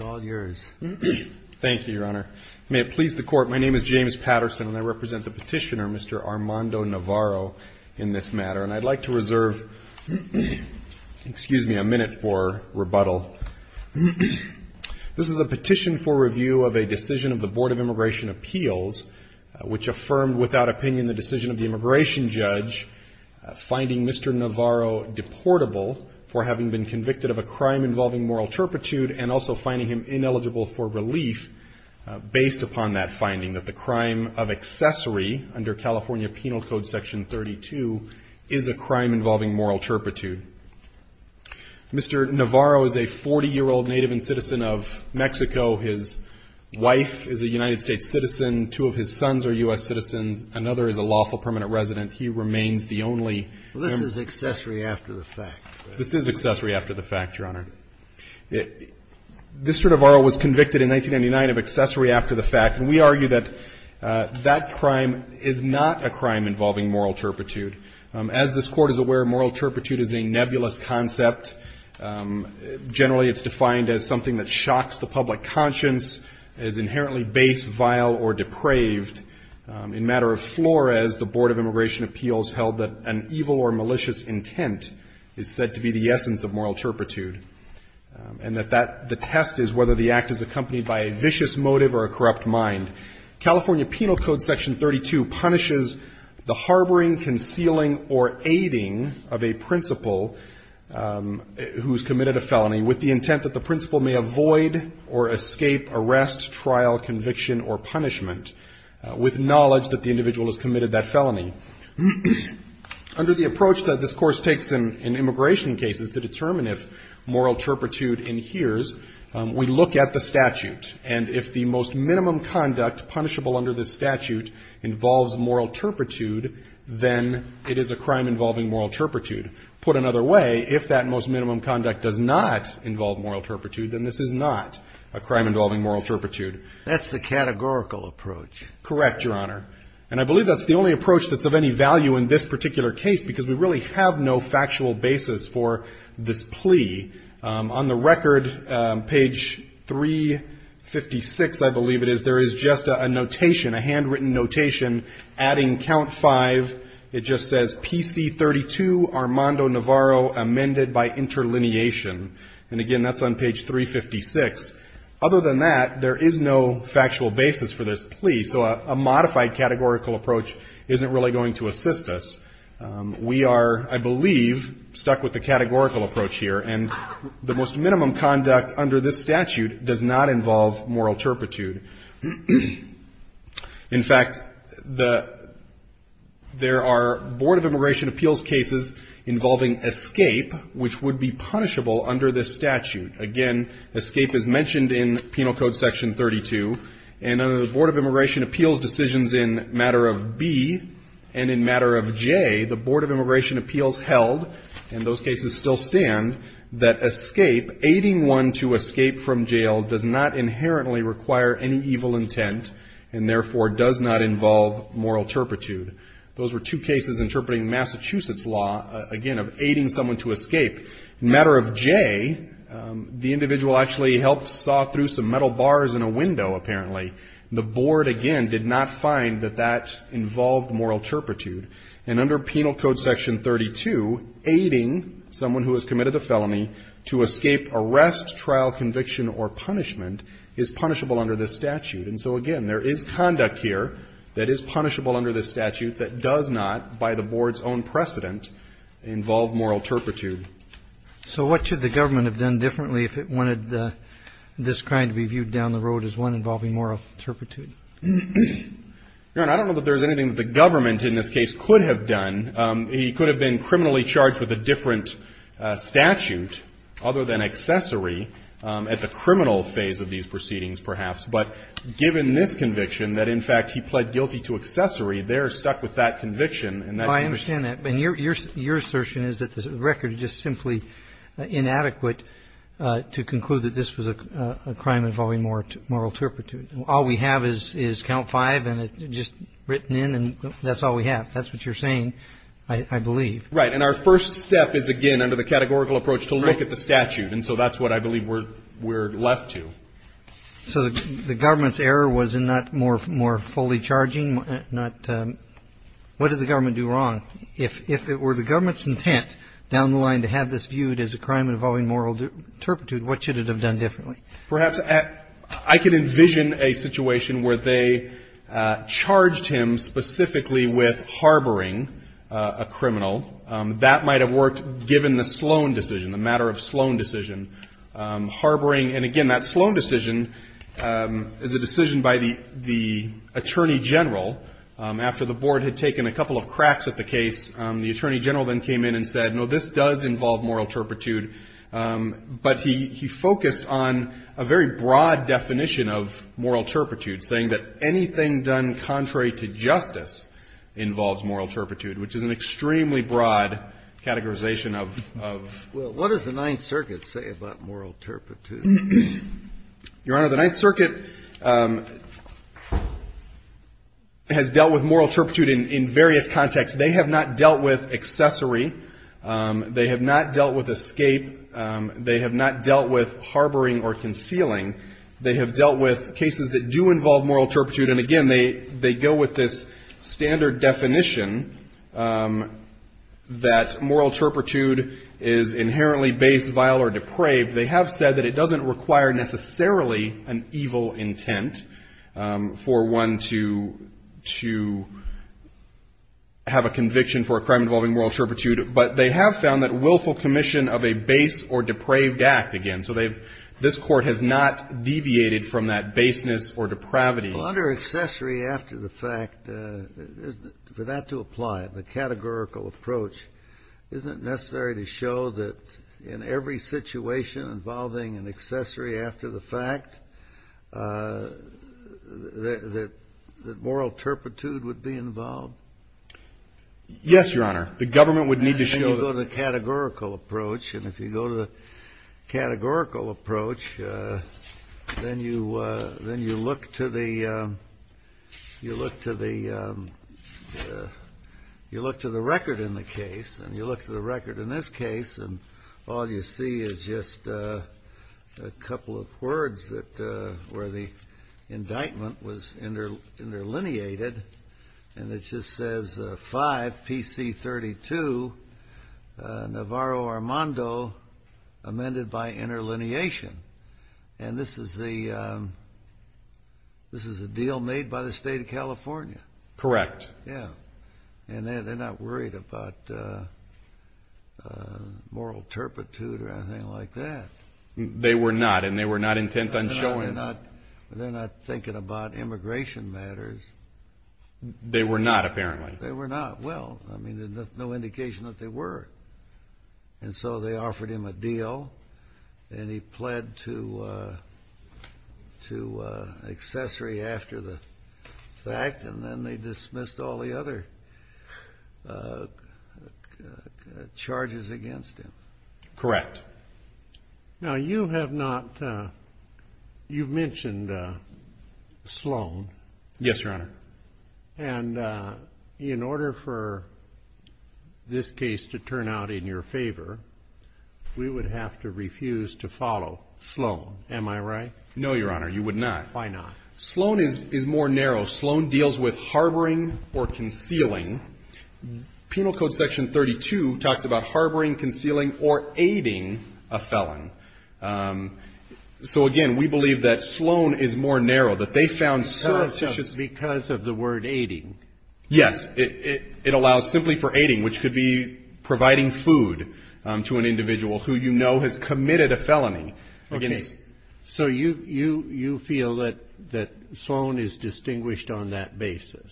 Thank you, Your Honor. May it please the Court, my name is James Patterson, and I represent the petitioner, Mr. Armando Navarro, in this matter. And I'd like to reserve, excuse me, a minute for rebuttal. This is a petition for review of a decision of the Board of Immigration Appeals, which affirmed without opinion the decision of the immigration judge finding Mr. Navarro deportable for having been convicted of a crime involving moral turpitude and also finding him ineligible for relief based upon that finding that the crime of accessory under California Penal Code Section 32 is a crime involving moral turpitude. Mr. Navarro is a 40-year-old native and citizen of Mexico. His wife is a United States citizen. Two of his sons are U.S. citizens. Another is a lawful permanent resident. He remains the only em- This is accessory after the fact. This is accessory after the fact, Your Honor. Mr. Navarro was convicted in 1999 of accessory after the fact. And we argue that that crime is not a crime involving moral turpitude. As this Court is aware, moral turpitude is a nebulous concept. Generally, it's defined as something that shocks the public conscience, is inherently base, vile or depraved. In matter of flores, the Board of Immigration Appeals held that an evil or malicious intent is said to be the essence of moral turpitude and that that the test is whether the act is accompanied by a vicious motive or a corrupt mind. California Penal Code Section 32 punishes the harboring, concealing or aiding of a principal who's committed a felony with the intent that the principal may avoid or escape arrest, trial, conviction or punishment with knowledge that the individual has committed that felony. Under the approach that this Course takes in immigration cases to determine if moral turpitude inheres, we look at the statute. And if the most minimum conduct punishable under this statute involves moral turpitude, then it is a crime involving moral turpitude. Put another way, if that most minimum conduct does not involve moral turpitude, then this is not a crime involving moral turpitude. That's the categorical approach. Correct, Your Honor. And I believe that's the only approach that's of any value in this particular case because we really have no factual basis for this plea. On the record, page 356, I believe it is, there is just a notation, a handwritten notation adding count 5. It just says PC 32 Armando Navarro amended by interlineation. And again, that's on page 356. Other than that, there is no factual basis for this plea. So a modified categorical approach isn't really going to assist us. We are, I believe, stuck with the categorical approach here. And the most minimum conduct under this statute does not involve moral turpitude. In fact, there are Board of Immigration Appeals cases involving escape, which would be punishable under this statute. Again, escape is mentioned in Penal Code Section 32. And under the Board of Immigration Appeals decisions in Matter of B and in Matter of J, the Board of Immigration Appeals held, and those cases still stand, that escape, aiding one to escape from jail, does not inherently require any evil intent and, therefore, does not involve moral turpitude. Those were two cases interpreting Massachusetts law, again, of aiding someone to escape. In Matter of J, the individual actually helped saw through some metal bars in a window, apparently. The Board, again, did not find that that involved moral turpitude. And under Penal Code Section 32, aiding someone who has committed a felony to escape arrest, trial, conviction or punishment is punishable under this statute. And so, again, there is conduct here that is punishable under this statute that does not, by the Board's own precedent, involve moral turpitude. So what should the government have done differently if it wanted this crime to be viewed down the road as one involving moral turpitude? I don't know that there is anything that the government in this case could have done. He could have been criminally charged with a different statute, other than accessory, at the criminal phase of these proceedings, perhaps. But given this conviction, that, in fact, he pled guilty to accessory, they are stuck with that conviction and that conviction. Well, I understand that. But your assertion is that the record is just simply inadequate to conclude that this was a crime involving moral turpitude. All we have is Count 5, and it's just written in, and that's all we have. That's what you're saying, I believe. Right. And our first step is, again, under the categorical approach, to look at the statute. And so that's what I believe we're left to. So the government's error was in not more fully charging? What did the government do wrong? If it were the government's intent down the line to have this viewed as a crime involving moral turpitude, what should it have done differently? Perhaps I could envision a situation where they charged him specifically with harboring a criminal. That might have worked given the Sloan decision, the matter of Sloan decision. Harboring, and again, that Sloan decision is a decision by the attorney general after the board had taken a couple of cracks at the case. The attorney general then came in and said, no, this does involve moral turpitude. But he focused on a very broad definition of moral turpitude, saying that anything done contrary to justice involves moral turpitude, which is an extremely broad categorization of. Well, what does the Ninth Circuit say about moral turpitude? Your Honor, the Ninth Circuit has dealt with moral turpitude in various contexts. They have not dealt with accessory. They have not dealt with escape. They have not dealt with harboring or concealing. They have dealt with cases that do involve moral turpitude. And, again, they go with this standard definition that moral turpitude is inherently base, vile, or depraved. They have said that it doesn't require necessarily an evil intent for one to have a conviction for a crime involving moral turpitude. But they have found that willful commission of a base or depraved act, again, so this Court has not deviated from that baseness or depravity. Well, under accessory after the fact, for that to apply, the categorical approach, isn't it necessary to show that in every situation involving an accessory after the fact that moral turpitude would be involved? Yes, Your Honor. The government would need to show that. And you go to the categorical approach. And if you go to the categorical approach, then you look to the record in the case. And you look to the record in this case, and all you see is just a couple of words where the indictment was interlineated. And it just says 5 PC 32 Navarro Armando amended by interlineation. And this is a deal made by the State of California. Correct. Yeah. And they're not worried about moral turpitude or anything like that. They were not. And they were not intent on showing that. They're not thinking about immigration matters. They were not, apparently. They were not. Well, I mean, there's no indication that they were. And so they offered him a deal. And he pled to accessory after the fact. And then they dismissed all the other charges against him. Correct. Now, you have mentioned Sloan. Yes, Your Honor. And in order for this case to turn out in your favor, we would have to refuse to follow Sloan. Am I right? No, Your Honor. You would not. Why not? Sloan is more narrow. Sloan deals with harboring or concealing. Penal Code Section 32 talks about harboring, concealing, or aiding a felon. So, again, we believe that Sloan is more narrow, that they found surreptitious. Because of the word aiding. Yes. It allows simply for aiding, which could be providing food to an individual who you know has committed a felony. Okay. So you feel that Sloan is distinguished on that basis?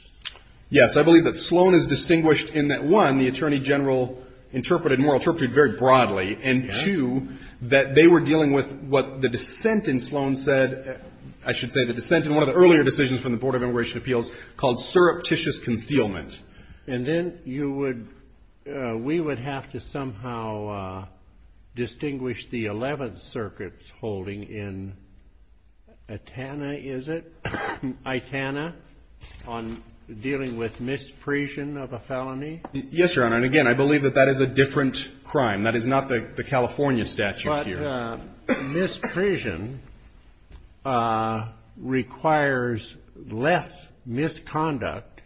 Yes. I believe that Sloan is distinguished in that, one, the Attorney General interpreted, more interpreted very broadly, and, two, that they were dealing with what the dissent in Sloan said, I should say the dissent in one of the earlier decisions from the Board of Immigration Appeals, called surreptitious concealment. And then you would, we would have to somehow distinguish the Eleventh Circuit's holding in Itana on dealing with misprision of a felony? Yes, Your Honor. And, again, I believe that that is a different crime. That is not the California statute here. But misprision requires less misconduct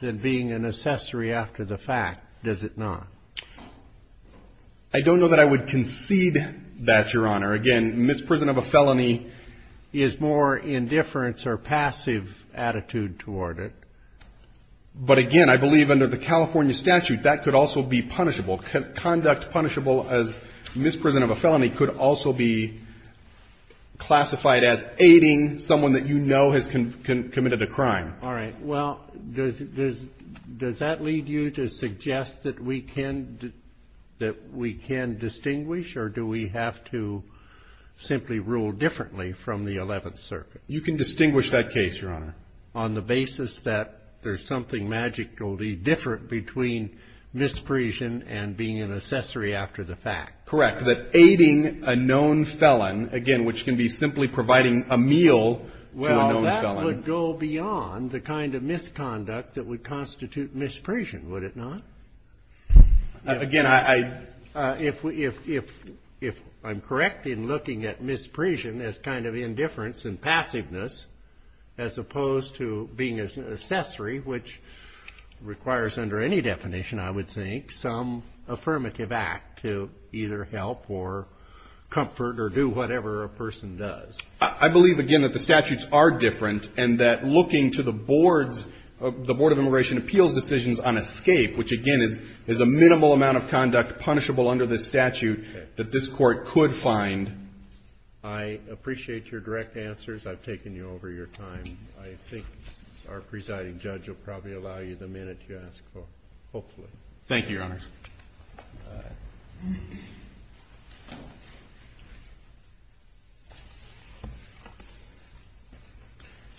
than being an accessory after the fact, does it not? I don't know that I would concede that, Your Honor. Again, misprison of a felony is more indifference or passive attitude toward it. But, again, I believe under the California statute that could also be punishable. Conduct punishable as misprison of a felony could also be classified as aiding someone that you know has committed a crime. All right. Well, does that lead you to suggest that we can distinguish or do we have to simply rule differently from the Eleventh Circuit? You can distinguish that case, Your Honor. On the basis that there's something magically different between misprision and being an accessory after the fact? Correct. That aiding a known felon, again, which can be simply providing a meal to a known felon. It would go beyond the kind of misconduct that would constitute misprision, would it not? Again, I — If I'm correct in looking at misprision as kind of indifference and passiveness as opposed to being an accessory, which requires under any definition, I would think, some affirmative act to either help or comfort or do whatever a person does. I believe, again, that the statutes are different and that looking to the board's — the Board of Immigration Appeals' decisions on escape, which, again, is a minimal amount of conduct punishable under this statute, that this Court could find. I appreciate your direct answers. I've taken you over your time. I think our presiding judge will probably allow you the minute you ask for, hopefully. Thank you, Your Honors.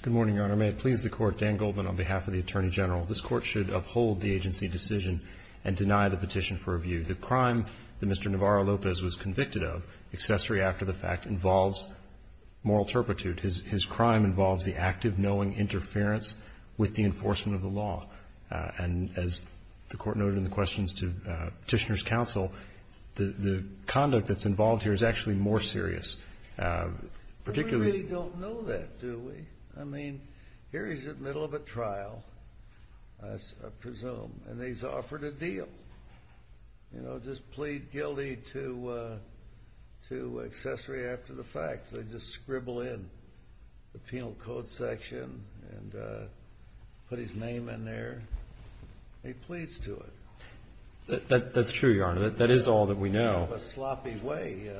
Good morning, Your Honor. May it please the Court. Dan Goldman on behalf of the Attorney General. This Court should uphold the agency decision and deny the petition for review. The crime that Mr. Navarro-Lopez was convicted of, accessory after the fact, involves moral turpitude. His crime involves the active knowing interference with the enforcement of the law. And as the Court noted in the questions to Petitioner's counsel, the conduct that's involved here is actually more serious. We really don't know that, do we? I mean, here he's in the middle of a trial, I presume, and he's offered a deal. You know, just plead guilty to accessory after the fact. They just scribble in the penal code section and put his name in there. He pleads to it. That's true, Your Honor. That is all that we know. In a sloppy way.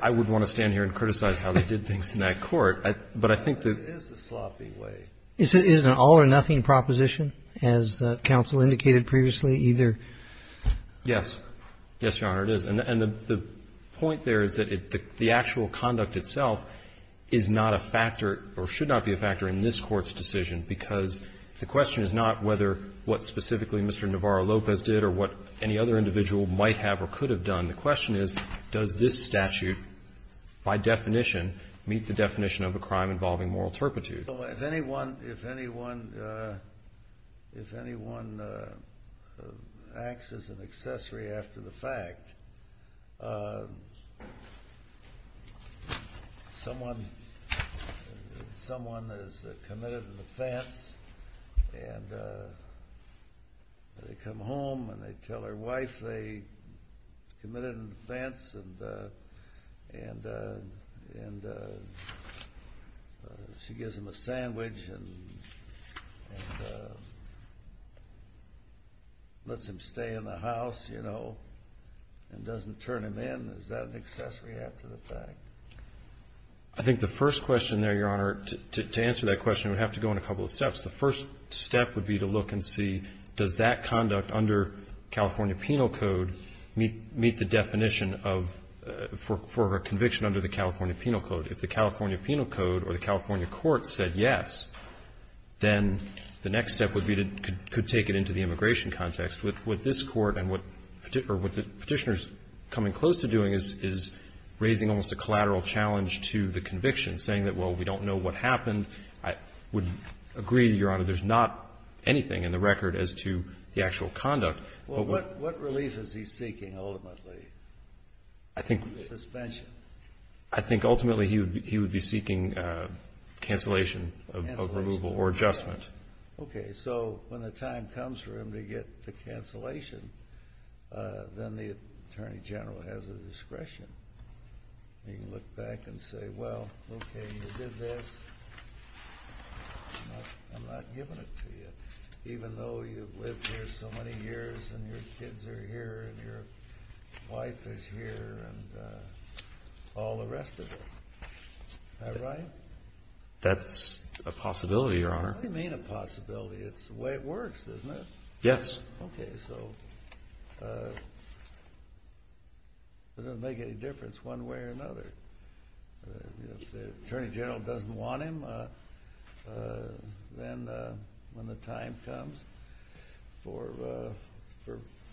I would want to stand here and criticize how they did things in that Court. But I think that it is a sloppy way. Is it an all-or-nothing proposition, as counsel indicated previously, either? Yes. Yes, Your Honor, it is. And the point there is that the actual conduct itself is not a factor, or should not be a factor, in this Court's decision. Because the question is not whether what specifically Mr. Navarro-Lopez did or what any other individual might have or could have done. The question is, does this statute, by definition, meet the definition of a crime involving moral turpitude? Well, if anyone acts as an accessory after the fact, someone is committed an offense, and they come home and they tell their wife they committed an offense, and she gives them a sandwich and lets them stay in the house, and doesn't turn them in, is that an accessory after the fact? I think the first question there, Your Honor, to answer that question would have to go in a couple of steps. The first step would be to look and see, does that conduct under California Penal Code meet the definition of, for a conviction under the California Penal Code? If the California Penal Code or the California court said yes, then the next step would be to take it into the immigration context. What this Court and what the Petitioner is coming close to doing is raising almost a collateral challenge to the conviction, saying that, well, we don't know what happened. I would agree, Your Honor, there's not anything in the record as to the actual conduct. Well, what relief is he seeking ultimately? I think ultimately he would be seeking cancellation of removal or adjustment. Okay, so when the time comes for him to get the cancellation, then the Attorney General has the discretion. He can look back and say, well, okay, you did this. I'm not giving it to you, even though you've lived here so many years, and your kids are here, and your wife is here, and all the rest of it. Is that right? That's a possibility, Your Honor. I don't mean a possibility. It's the way it works, isn't it? Yes. Okay, so it doesn't make any difference one way or another. If the Attorney General doesn't want him, then when the time comes for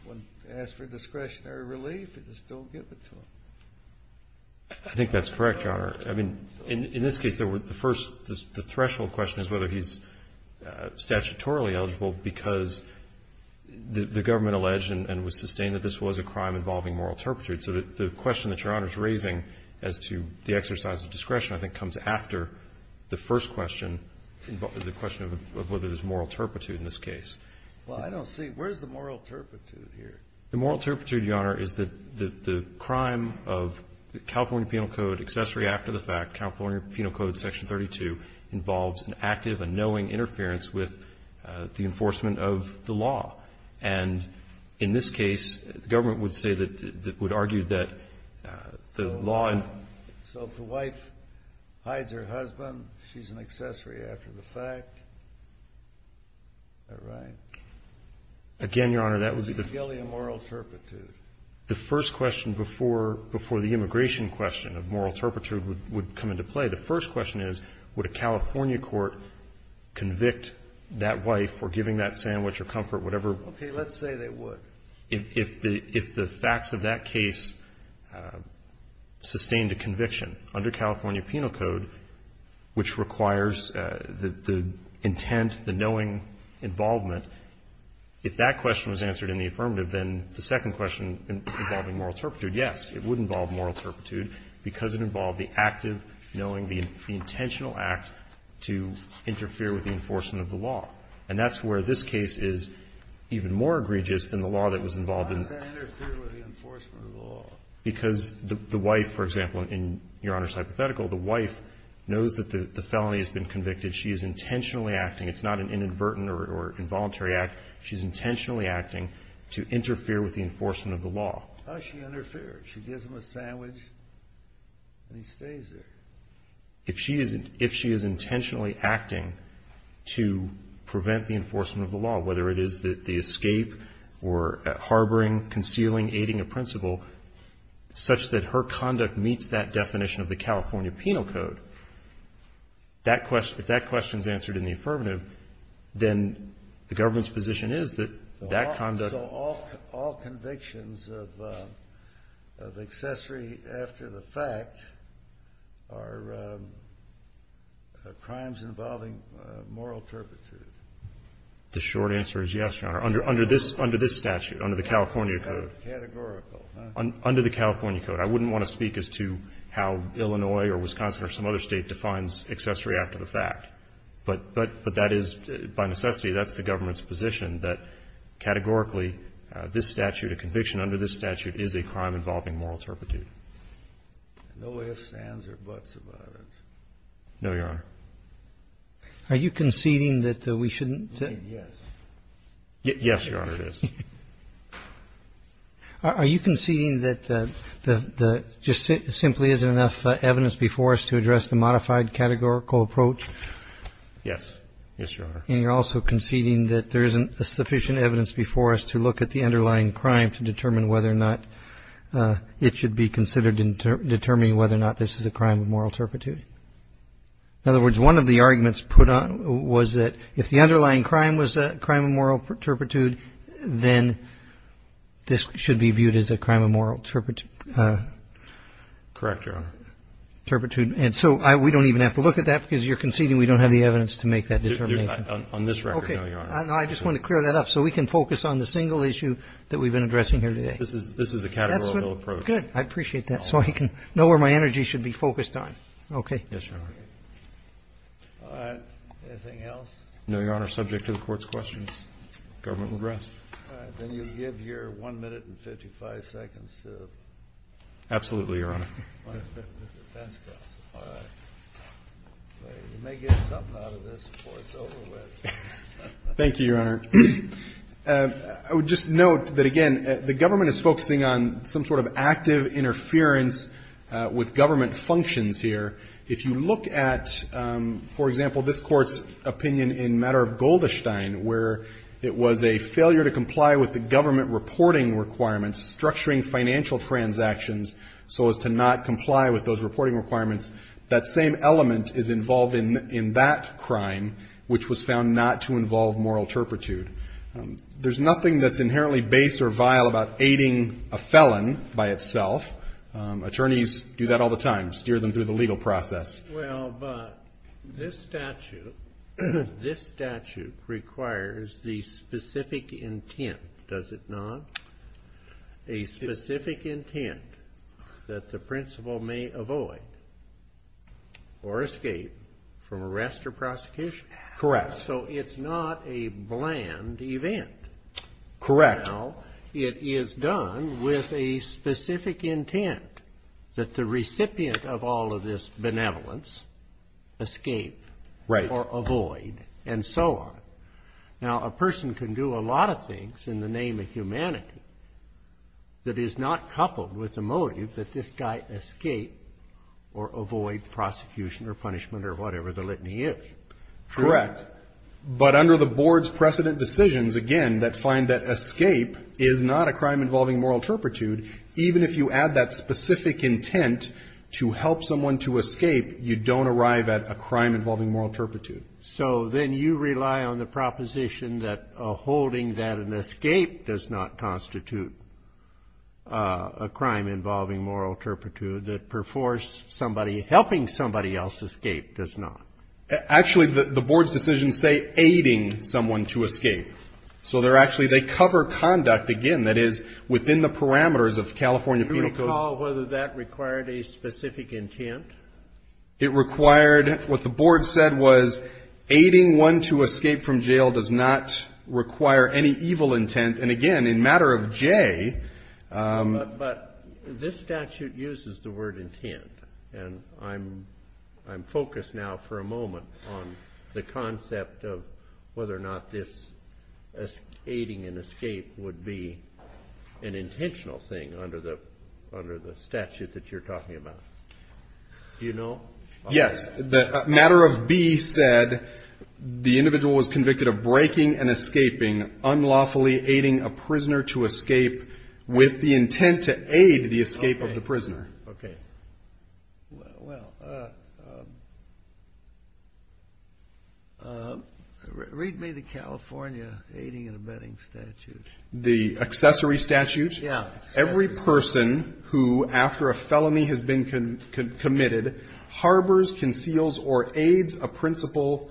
one to ask for discretionary relief, just don't give it to him. I think that's correct, Your Honor. I mean, in this case, the first, the threshold question is whether he's statutorily eligible because the government alleged and would sustain that this was a crime involving moral turpitude. So the question that Your Honor is raising as to the exercise of discretion I think comes after the first question, the question of whether there's moral turpitude in this case. Well, I don't see. Where's the moral turpitude here? The moral turpitude, Your Honor, is that the crime of the California Penal Code accessory after the fact, California Penal Code Section 32, involves an active and knowing interference with the enforcement of the law. And in this case, the government would say that, would argue that the law. So if the wife hides her husband, she's an accessory after the fact. Is that right? Again, Your Honor, that would be the. Evangelia moral turpitude. The first question before the immigration question of moral turpitude would come into play. The first question is, would a California court convict that wife for giving that sandwich or comfort, whatever. Okay. Let's say they would. If the facts of that case sustained a conviction under California Penal Code, which requires the intent, the knowing involvement, if that question was answered in the affirmative, then the second question involving moral turpitude, yes, it would involve moral turpitude because it involved the active knowing, the intentional act to interfere with the enforcement of the law. And that's where this case is even more egregious than the law that was involved in. Why would that interfere with the enforcement of the law? Because the wife, for example, in Your Honor's hypothetical, the wife knows that the felony has been convicted. She is intentionally acting. It's not an inadvertent or involuntary act. She's intentionally acting to interfere with the enforcement of the law. How does she interfere? She gives him a sandwich and he stays there. If she is intentionally acting to prevent the enforcement of the law, whether it is the escape or harboring, concealing, aiding a principal, such that her conduct meets that definition of the California Penal Code, if that question is answered in the affirmative, then the government's position is that that conduct So all convictions of accessory after the fact are crimes involving moral turpitude? The short answer is yes, Your Honor, under this statute, under the California Code. Categorical, huh? Under the California Code. I wouldn't want to speak as to how Illinois or Wisconsin or some other State defines accessory after the fact. But that is, by necessity, that's the government's position, that categorically, this statute, a conviction under this statute, is a crime involving moral turpitude. No ifs, ands, or buts about it. No, Your Honor. Are you conceding that we shouldn't? Yes. Yes, Your Honor, it is. Are you conceding that there just simply isn't enough evidence before us to address the modified categorical approach? Yes. Yes, Your Honor. And you're also conceding that there isn't sufficient evidence before us to look at the underlying crime to determine whether or not it should be considered in determining whether or not this is a crime of moral turpitude? In other words, one of the arguments put on was that if the underlying crime was a crime of moral turpitude, then this should be viewed as a crime of moral turpitude. Correct, Your Honor. Turpitude. And so we don't even have to look at that because you're conceding we don't have the evidence to make that determination. On this record, no, Your Honor. Okay. I just want to clear that up so we can focus on the single issue that we've been addressing here today. This is a categorical approach. Good. I appreciate that so I can know where my energy should be focused on. Okay. Yes, Your Honor. Anything else? No, Your Honor. Subject to the Court's questions. Government will rest. All right. Then you'll give your 1 minute and 55 seconds to... Absolutely, Your Honor. All right. You may get something out of this before it's over with. Thank you, Your Honor. I would just note that, again, the government is focusing on some sort of active interference with government functions here. If you look at, for example, this Court's opinion in matter of Goldestein, where it was a failure to comply with the government reporting requirements, structuring financial transactions so as to not comply with those reporting requirements, that same element is involved in that crime, which was found not to involve moral turpitude. There's nothing that's inherently base or vile about aiding a felon by itself. Attorneys do that all the time, steer them through the legal process. Well, but this statute requires the specific intent, does it not? A specific intent that the principal may avoid or escape from arrest or prosecution. Correct. So it's not a bland event. Correct. Now, it is done with a specific intent that the recipient of all of this benevolence escape. Right. Or avoid, and so on. Now, a person can do a lot of things in the name of humanity that is not coupled with the motive that this guy escape or avoid prosecution or punishment or whatever the litany is. Correct. But under the board's precedent decisions, again, that find that escape is not a crime involving moral turpitude, even if you add that specific intent to help someone to escape, you don't arrive at a crime involving moral turpitude. So then you rely on the proposition that a holding that an escape does not constitute a crime involving moral turpitude, that perforce somebody helping somebody else escape does not. Actually, the board's decisions say aiding someone to escape. So they're actually, they cover conduct, again, that is within the parameters of California penal code. Do you recall whether that required a specific intent? It required, what the board said was aiding one to escape from jail does not require any evil intent. And, again, in matter of J. But this statute uses the word intent. And I'm focused now for a moment on the concept of whether or not this aiding an escape would be an intentional thing under the statute that you're talking about. Do you know? Yes. The matter of B said the individual was convicted of breaking and escaping, unlawfully aiding a prisoner to escape with the intent to aid the escape of the prisoner. Okay. Well, read me the California aiding and abetting statute. The accessory statute? Yeah. Every person who, after a felony has been committed, harbors, conceals, or aids a principal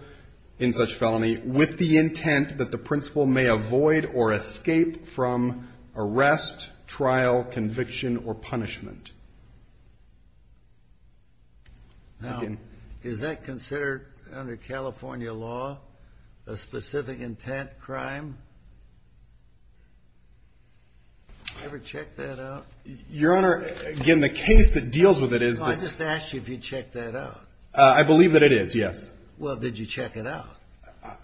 in such felony with the intent that the principal may avoid or escape from arrest, trial, conviction, or punishment. Now, is that considered under California law a specific intent crime? Have you ever checked that out? Your Honor, again, the case that deals with it is this. I just asked you if you checked that out. I believe that it is, yes. Well, did you check it out?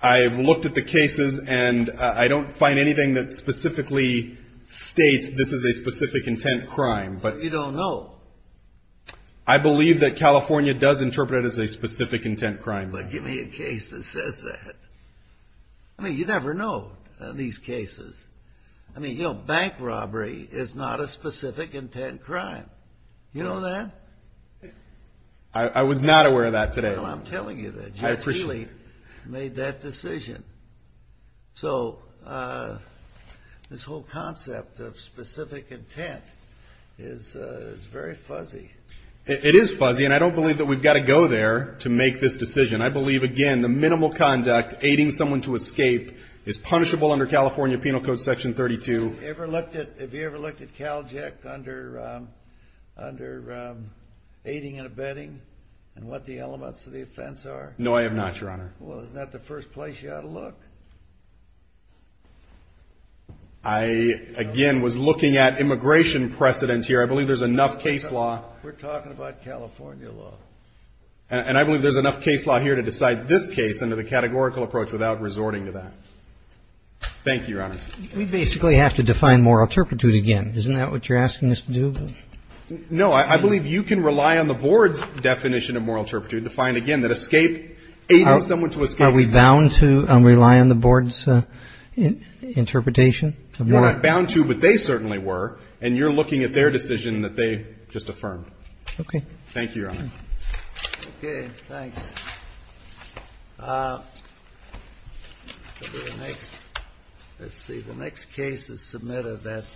I've looked at the cases, and I don't find anything that specifically states this is a specific intent crime. You don't know? I believe that California does interpret it as a specific intent crime. Well, give me a case that says that. I mean, you never know in these cases. I mean, you know, bank robbery is not a specific intent crime. You know that? I was not aware of that today. Well, I'm telling you that you actually made that decision. So this whole concept of specific intent is very fuzzy. It is fuzzy, and I don't believe that we've got to go there to make this decision. I believe, again, the minimal conduct, aiding someone to escape, is punishable under California Penal Code Section 32. Have you ever looked at CalJEC under aiding and abetting and what the elements of the offense are? No, I have not, Your Honor. Well, isn't that the first place you ought to look? I, again, was looking at immigration precedents here. I believe there's enough case law. We're talking about California law. And I believe there's enough case law here to decide this case under the categorical approach without resorting to that. Thank you, Your Honors. We basically have to define moral turpitude again. Isn't that what you're asking us to do? No. I believe you can rely on the Board's definition of moral turpitude to find, again, that escape, aiding someone to escape. Are we bound to rely on the Board's interpretation? You're not bound to, but they certainly were. And you're looking at their decision that they just affirmed. Okay. Thank you, Your Honor. Okay. Thanks. Let's see. The next case is submitted.